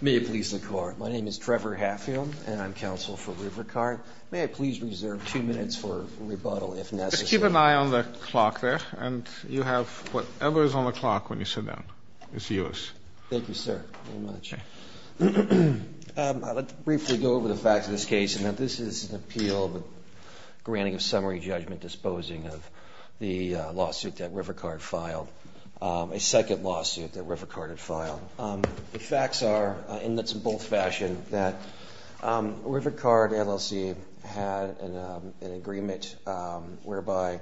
May I please reserve two minutes for rebuttal, if necessary? Just keep an eye on the clock there, and you have whatever is on the clock when you sit down. It's yours. Thank you, sir, very much. I'd like to briefly go over the facts of this case. Now, this is an appeal granting a summary judgment disposing of the lawsuit that Rivercard filed, a second lawsuit that Rivercard had filed. The facts are, and that's in both fashion, that Rivercard, LLC had an agreement whereby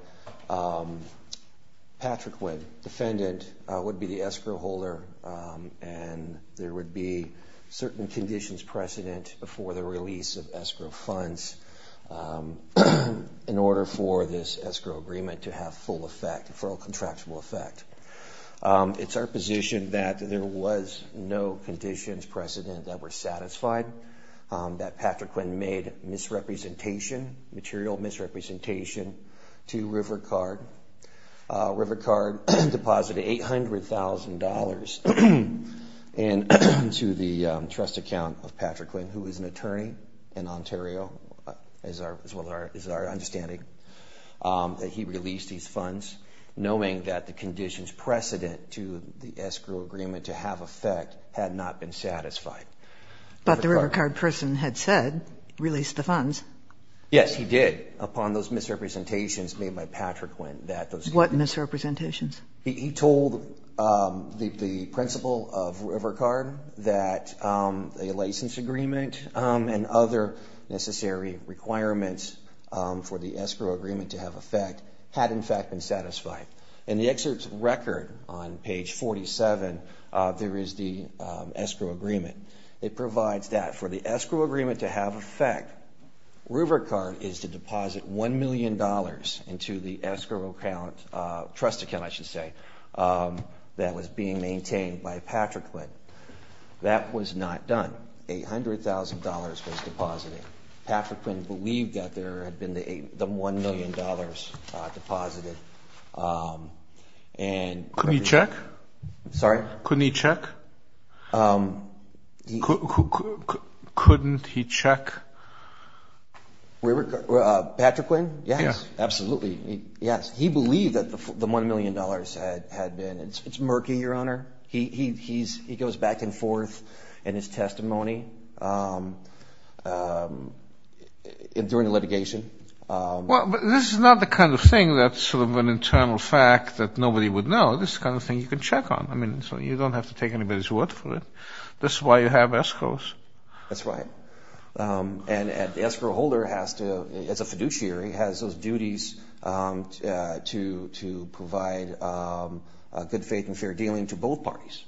Patriquin, defendant, would be the escrow holder, and there would be certain conditions precedent before the release of escrow funds in order for this escrow agreement to have full effect, for a contractual effect. It's our position that there was no conditions precedent that were satisfied, that Patriquin made misrepresentation, material misrepresentation to Rivercard. Rivercard deposited $800,000 into the trust account of Patriquin, who is an attorney in Ontario, as well as our understanding that he released these funds, knowing that the conditions precedent to the escrow agreement to have effect had not been satisfied. But the Rivercard person had said, released the funds. Yes, he did, upon those misrepresentations made by Patriquin. What misrepresentations? He told the principal of Rivercard that a license agreement and other necessary requirements for the escrow agreement to have effect had, in fact, been satisfied. In the excerpt's record on page 47, there is the escrow agreement. It provides that for the escrow agreement to have effect, Rivercard is to deposit $1 million into the escrow trust account, I should say, that was being maintained by Patriquin. That was not done. $800,000 was deposited. Patriquin believed that there had been the $1 million deposited. Couldn't he check? Sorry? Couldn't he check? Couldn't he check? Patriquin? Yes, absolutely. Yes, he believed that the $1 million had been. It's murky, Your Honor. He goes back and forth in his testimony during the litigation. Well, but this is not the kind of thing that's sort of an internal fact that nobody would know. This is the kind of thing you can check on. I mean, so you don't have to take anybody's word for it. This is why you have escrows. That's right. And the escrow holder has to, as a fiduciary, has those duties to provide good faith and fair dealing to both parties.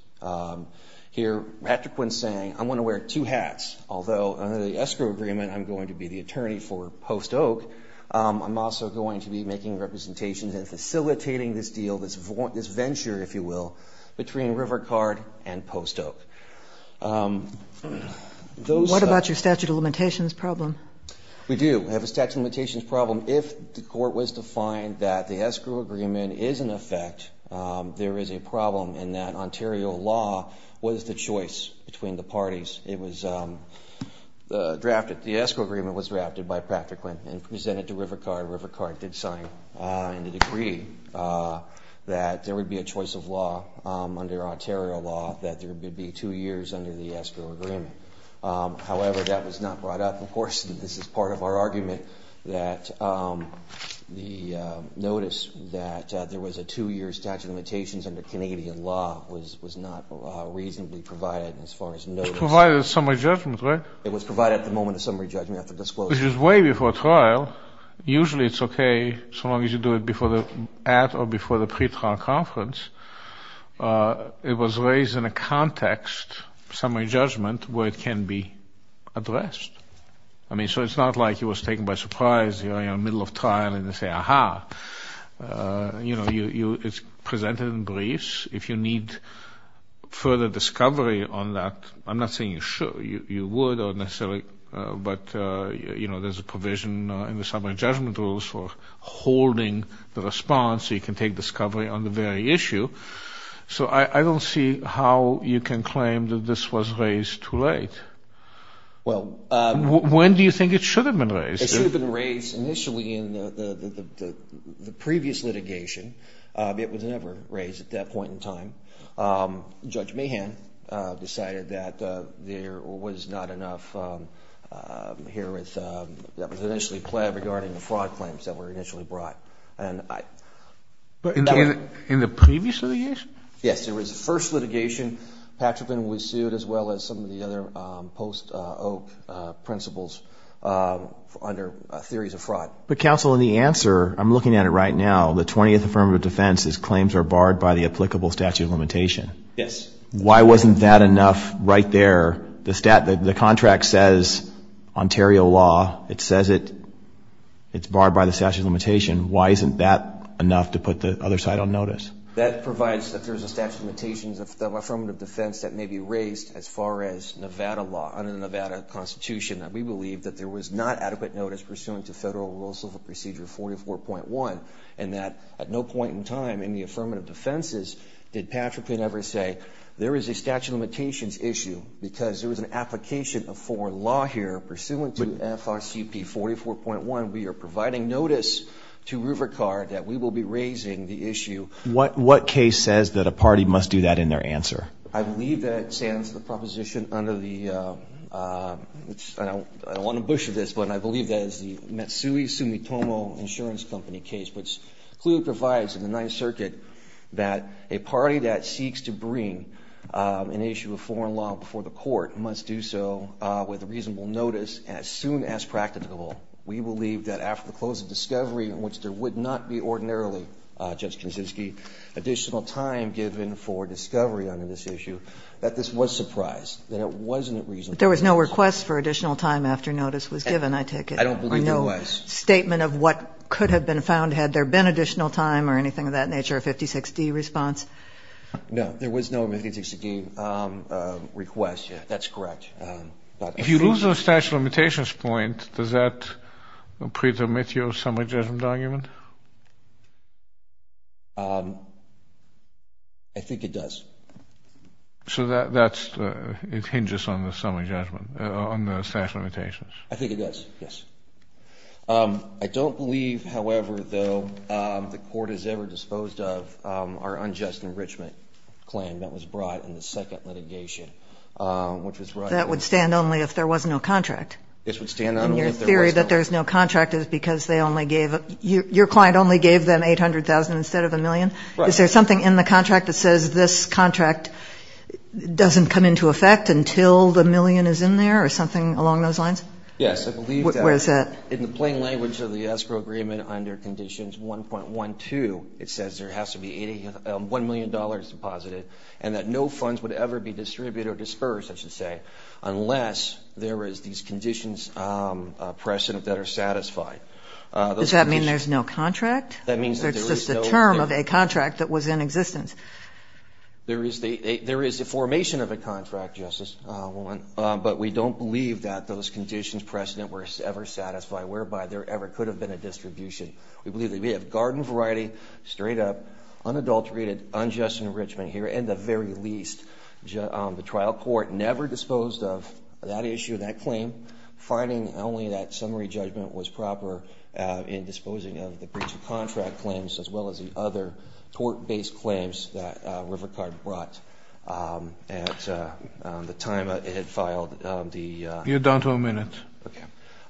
Here, Patriquin's saying, I'm going to wear two hats, although under the escrow agreement I'm going to be the attorney for Post Oak, I'm also going to be making representations and facilitating this deal, this venture, if you will, between River Card and Post Oak. What about your statute of limitations problem? We do have a statute of limitations problem. If the court was to find that the escrow agreement is in effect, there is a problem in that Ontario law was the choice between the parties. It was drafted. The escrow agreement was drafted by Patriquin and presented to River Card. River Card did sign and it agreed that there would be a choice of law under Ontario law, that there would be two years under the escrow agreement. However, that was not brought up. Of course, this is part of our argument, that the notice that there was a two-year statute of limitations under Canadian law was not reasonably provided as far as notice. It was provided at summary judgment, right? It was provided at the moment of summary judgment after disclosure. Which is way before trial. Usually it's okay so long as you do it at or before the pre-trial conference. It was raised in a context, summary judgment, where it can be addressed. I mean, so it's not like it was taken by surprise, you know, in the middle of trial and they say, ah-ha. You know, it's presented in briefs. If you need further discovery on that, I'm not saying you should. You would, necessarily, but, you know, there's a provision in the summary judgment rules for holding the response so you can take discovery on the very issue. So I don't see how you can claim that this was raised too late. When do you think it should have been raised? It should have been raised initially in the previous litigation. It was never raised at that point in time. Judge Mahan decided that there was not enough here that was initially pled regarding the fraud claims that were initially brought. In the previous litigation? Yes, there was the first litigation. Patrickman was sued as well as some of the other post-Oak principles under theories of fraud. But, counsel, in the answer, I'm looking at it right now, the 20th affirmative defense is claims are barred by the applicable statute of limitation. Yes. Why wasn't that enough right there? The contract says Ontario law. It says it's barred by the statute of limitation. Why isn't that enough to put the other side on notice? That provides that there's a statute of limitations of the affirmative defense that may be raised as far as Nevada law, under the Nevada Constitution, that we believe that there was not adequate notice pursuant to Federal Rules of Procedure 44.1 and that at no point in time in the affirmative defenses did Patrickman ever say, there is a statute of limitations issue because there was an application of foreign law here pursuant to FRCP 44.1. We are providing notice to River Card that we will be raising the issue. What case says that a party must do that in their answer? I believe that it stands the proposition under the, I don't want to butcher this, but I believe that it's the Matsui Sumitomo Insurance Company case, which clearly provides in the Ninth Circuit that a party that seeks to bring an issue of foreign law before the court must do so with reasonable notice as soon as practicable. We believe that after the close of discovery, in which there would not be ordinarily, Judge Kaczynski, additional time given for discovery under this issue, that this was surprised, that it wasn't reasonable. But there was no request for additional time after notice was given, I take it? I don't believe there was. No statement of what could have been found had there been additional time or anything of that nature, a 56D response? No, there was no 56D request. That's correct. If you lose the statute of limitations point, does that prove to omit your summary judgment argument? I think it does. So that's, it hinges on the summary judgment, on the statute of limitations. I think it does, yes. I don't believe, however, though, the court has ever disposed of our unjust enrichment claim that was brought in the second litigation, which was brought in. That would stand only if there was no contract. This would stand only if there was no contract. And your theory that there's no contract is because they only gave, your client only gave them 800,000 instead of a million? Right. Is there something in the contract that says this contract doesn't come into effect until the million is in there or something along those lines? Yes, I believe that. Where is that? In the plain language of the escrow agreement under conditions 1.12, it says there has to be $1 million deposited and that no funds would ever be distributed or disbursed, I should say, unless there is these conditions present that are satisfied. Does that mean there's no contract? That means there's just a term of a contract that was in existence. There is a formation of a contract, Justice, but we don't believe that those conditions present were ever satisfied whereby there ever could have been a distribution. We believe that we have garden variety, straight up, unadulterated, unjust enrichment here, and the very least, the trial court never disposed of that issue, that claim, finding only that summary judgment was proper in disposing of the breach of contract claims as well as the other tort-based claims that River Card brought at the time it had filed the... You're down to a minute. Okay.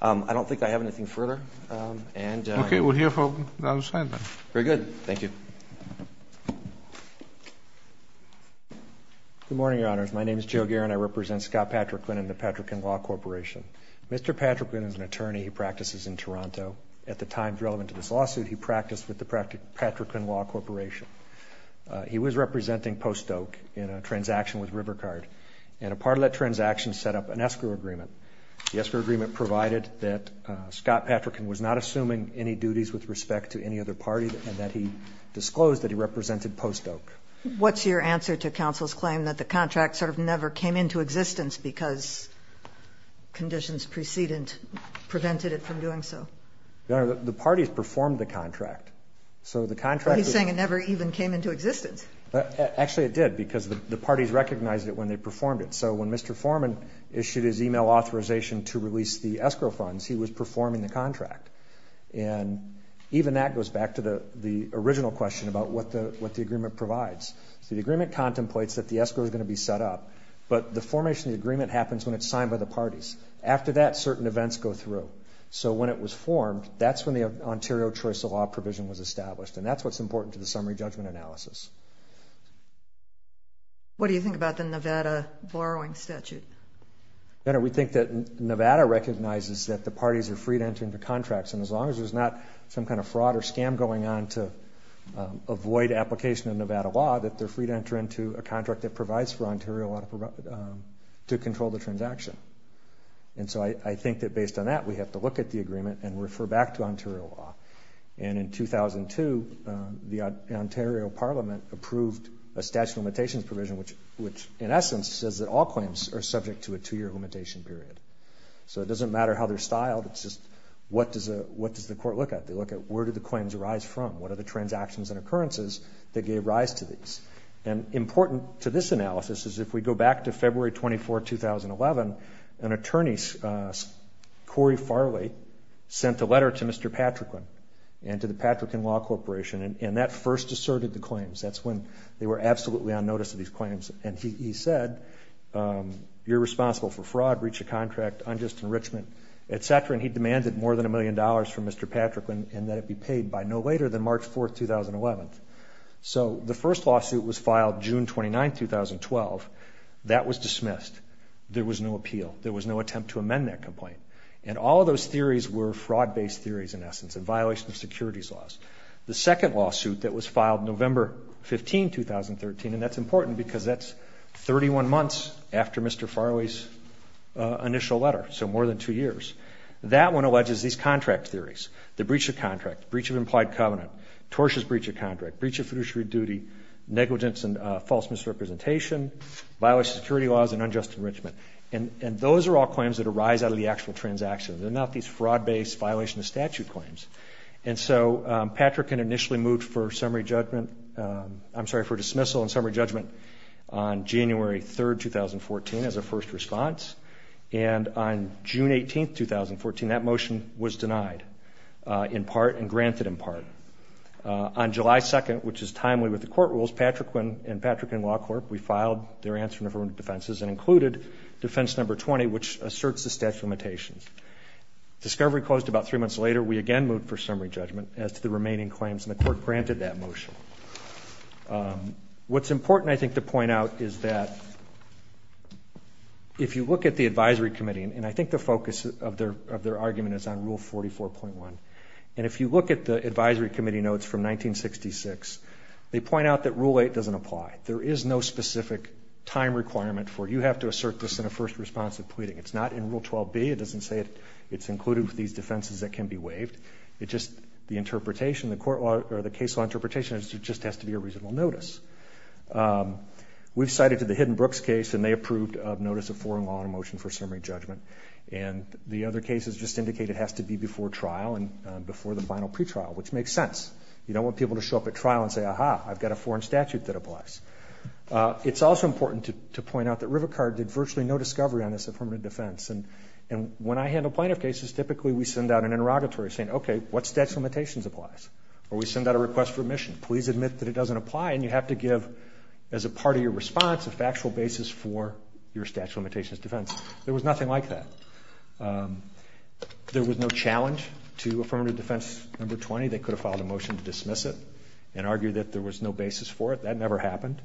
I don't think I have anything further. Okay, we'll hear from the other side then. Very good. Thank you. Good morning, Your Honors. My name is Joe Guerin. I represent Scott Patricklin and the Patrickin Law Corporation. Mr. Patricklin is an attorney who practices in Toronto. At the time relevant to this lawsuit, he practiced with the Patrickin Law Corporation. He was representing Post Oak in a transaction with River Card, and a part of that transaction set up an escrow agreement. The escrow agreement provided that Scott Patrickin was not assuming any duties with respect to any other party and that he disclosed that he represented Post Oak. What's your answer to counsel's claim that the contract sort of never came into existence because conditions precedent prevented it from doing so? Your Honor, the parties performed the contract. So the contract... But he's saying it never even came into existence. Actually, it did because the parties recognized it when they performed it. So when Mr. Forman issued his e-mail authorization to release the escrow funds, he was performing the contract. And even that goes back to the original question about what the agreement provides. So the agreement contemplates that the escrow is going to be set up, but the formation of the agreement happens when it's signed by the parties. After that, certain events go through. So when it was formed, that's when the Ontario Choice of Law provision was established, and that's what's important to the summary judgment analysis. What do you think about the Nevada borrowing statute? Your Honor, we think that Nevada recognizes that the parties are free to enter into contracts, and as long as there's not some kind of fraud or scam going on to avoid application of Nevada law, that they're free to enter into a contract that provides for Ontario to control the transaction. And so I think that based on that, we have to look at the agreement and refer back to Ontario law. And in 2002, the Ontario Parliament approved a statute of limitations provision, which in essence says that all claims are subject to a two-year limitation period. So it doesn't matter how they're styled. It's just what does the court look at? They look at where did the claims arise from? What are the transactions and occurrences that gave rise to these? And important to this analysis is if we go back to February 24, 2011, an attorney, Corey Farley, sent a letter to Mr. Patricklin and to the Patricklin Law Corporation, and that first asserted the claims. That's when they were absolutely on notice of these claims, and he said you're responsible for fraud, breach of contract, unjust enrichment, et cetera, and he demanded more than a million dollars from Mr. Patricklin and that it be paid by no later than March 4, 2011. So the first lawsuit was filed June 29, 2012. That was dismissed. There was no appeal. There was no attempt to amend that complaint. And all of those theories were fraud-based theories in essence in violation of securities laws. The second lawsuit that was filed November 15, 2013, and that's important because that's 31 months after Mr. Farley's initial letter, so more than two years. That one alleges these contract theories. The breach of contract, breach of implied covenant, tortious breach of contract, breach of fiduciary duty, negligence and false misrepresentation, violation of securities laws, and unjust enrichment. And those are all claims that arise out of the actual transaction. They're not these fraud-based violation of statute claims. And so Patricklin initially moved for summary judgment, I'm sorry, for dismissal and summary judgment on January 3, 2014 as a first response, and on June 18, 2014, that motion was denied in part and granted in part. On July 2, which is timely with the court rules, Patricklin and Patricklin Law Corp., we filed their answer in affirmative defenses and included defense number 20, which asserts the statute of limitations. Discovery closed about three months later. We again moved for summary judgment as to the remaining claims, and the court granted that motion. What's important, I think, to point out is that if you look at the advisory committee, and I think the focus of their argument is on Rule 44.1, and if you look at the advisory committee notes from 1966, they point out that Rule 8 doesn't apply. There is no specific time requirement for you have to assert this in a first response of pleading. It's not in Rule 12b. It doesn't say it's included with these defenses that can be waived. The interpretation, the case law interpretation, just has to be a reasonable notice. We've cited the Hidden Brooks case, and they approved of notice of foreign law in a motion for summary judgment, and the other cases just indicate it has to be before trial and before the final pretrial, which makes sense. You don't want people to show up at trial and say, aha, I've got a foreign statute that applies. It's also important to point out that River Card did virtually no discovery on this affirmative defense, and when I handle plaintiff cases, typically we send out an interrogatory saying, okay, what statute of limitations applies? Or we send out a request for admission. Please admit that it doesn't apply, and you have to give as a part of your response a factual basis for your statute of limitations defense. There was nothing like that. There was no challenge to affirmative defense number 20. They could have filed a motion to dismiss it and argued that there was no basis for it. That never happened.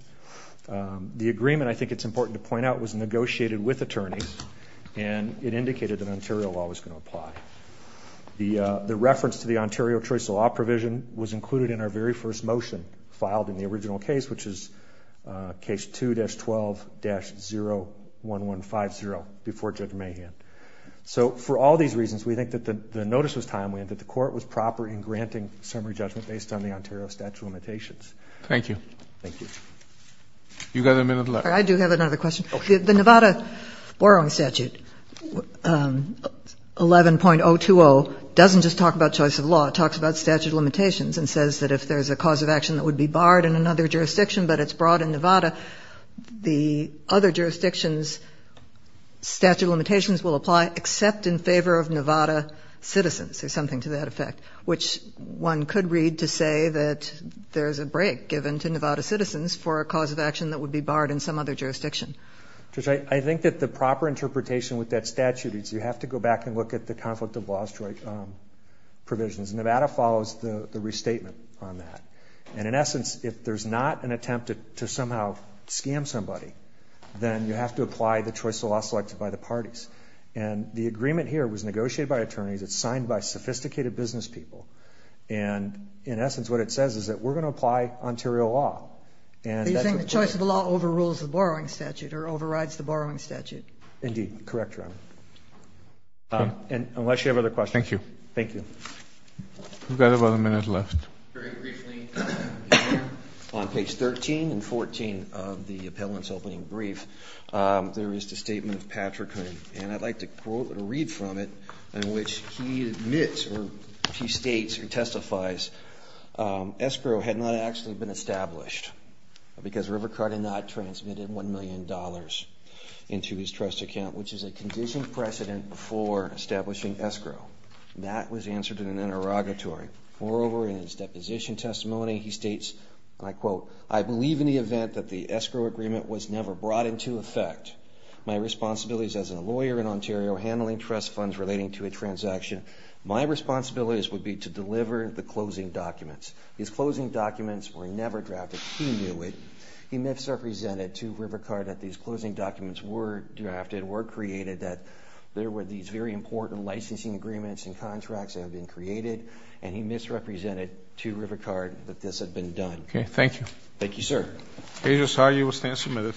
The agreement, I think it's important to point out, was negotiated with attorneys, and it indicated that Ontario law was going to apply. The reference to the Ontario choice of law provision was included in our very first motion, filed in the original case, which is case 2-12-01150, before Judge Mahan. So for all these reasons, we think that the notice was timely and that the court was proper in granting summary judgment based on the Ontario statute of limitations. Thank you. Thank you. You've got a minute left. I do have another question. Okay. The Nevada borrowing statute, 11.020, doesn't just talk about choice of law. It talks about statute of limitations and says that if there's a cause of action that would be barred in another jurisdiction but it's brought in Nevada, the other jurisdictions' statute of limitations will apply except in favor of Nevada citizens, or something to that effect, which one could read to say that there's a break given to Nevada citizens for a cause of action that would be barred in some other jurisdiction. Judge, I think that the proper interpretation with that statute is you have to go back and look at the conflict of law provisions. Nevada follows the restatement on that. And in essence, if there's not an attempt to somehow scam somebody, then you have to apply the choice of law selected by the parties. And the agreement here was negotiated by attorneys. It's signed by sophisticated business people. And in essence, what it says is that we're going to apply Ontario law. You're saying the choice of law overrules the borrowing statute or overrides the borrowing statute? Indeed. Correct, Your Honor. Unless you have other questions. Thank you. Thank you. We've got about a minute left. Very briefly, on page 13 and 14 of the appellant's opening brief, there is the statement of Patrick Hoon, and I'd like to read from it, in which he admits or he states or testifies escrow had not actually been established because Rivercard had not transmitted $1 million into his trust account, which is a conditioned precedent for establishing escrow. That was answered in an interrogatory. Moreover, in his deposition testimony, he states, and I quote, I believe in the event that the escrow agreement was never brought into effect, my responsibilities as a lawyer in Ontario handling trust funds relating to a transaction, my responsibilities would be to deliver the closing documents. These closing documents were never drafted. He knew it. He misrepresented to Rivercard that these closing documents were drafted, were created, that there were these very important licensing agreements and contracts that had been created, and he misrepresented to Rivercard that this had been done. Okay. Thank you. Thank you, sir. Page 12 of 13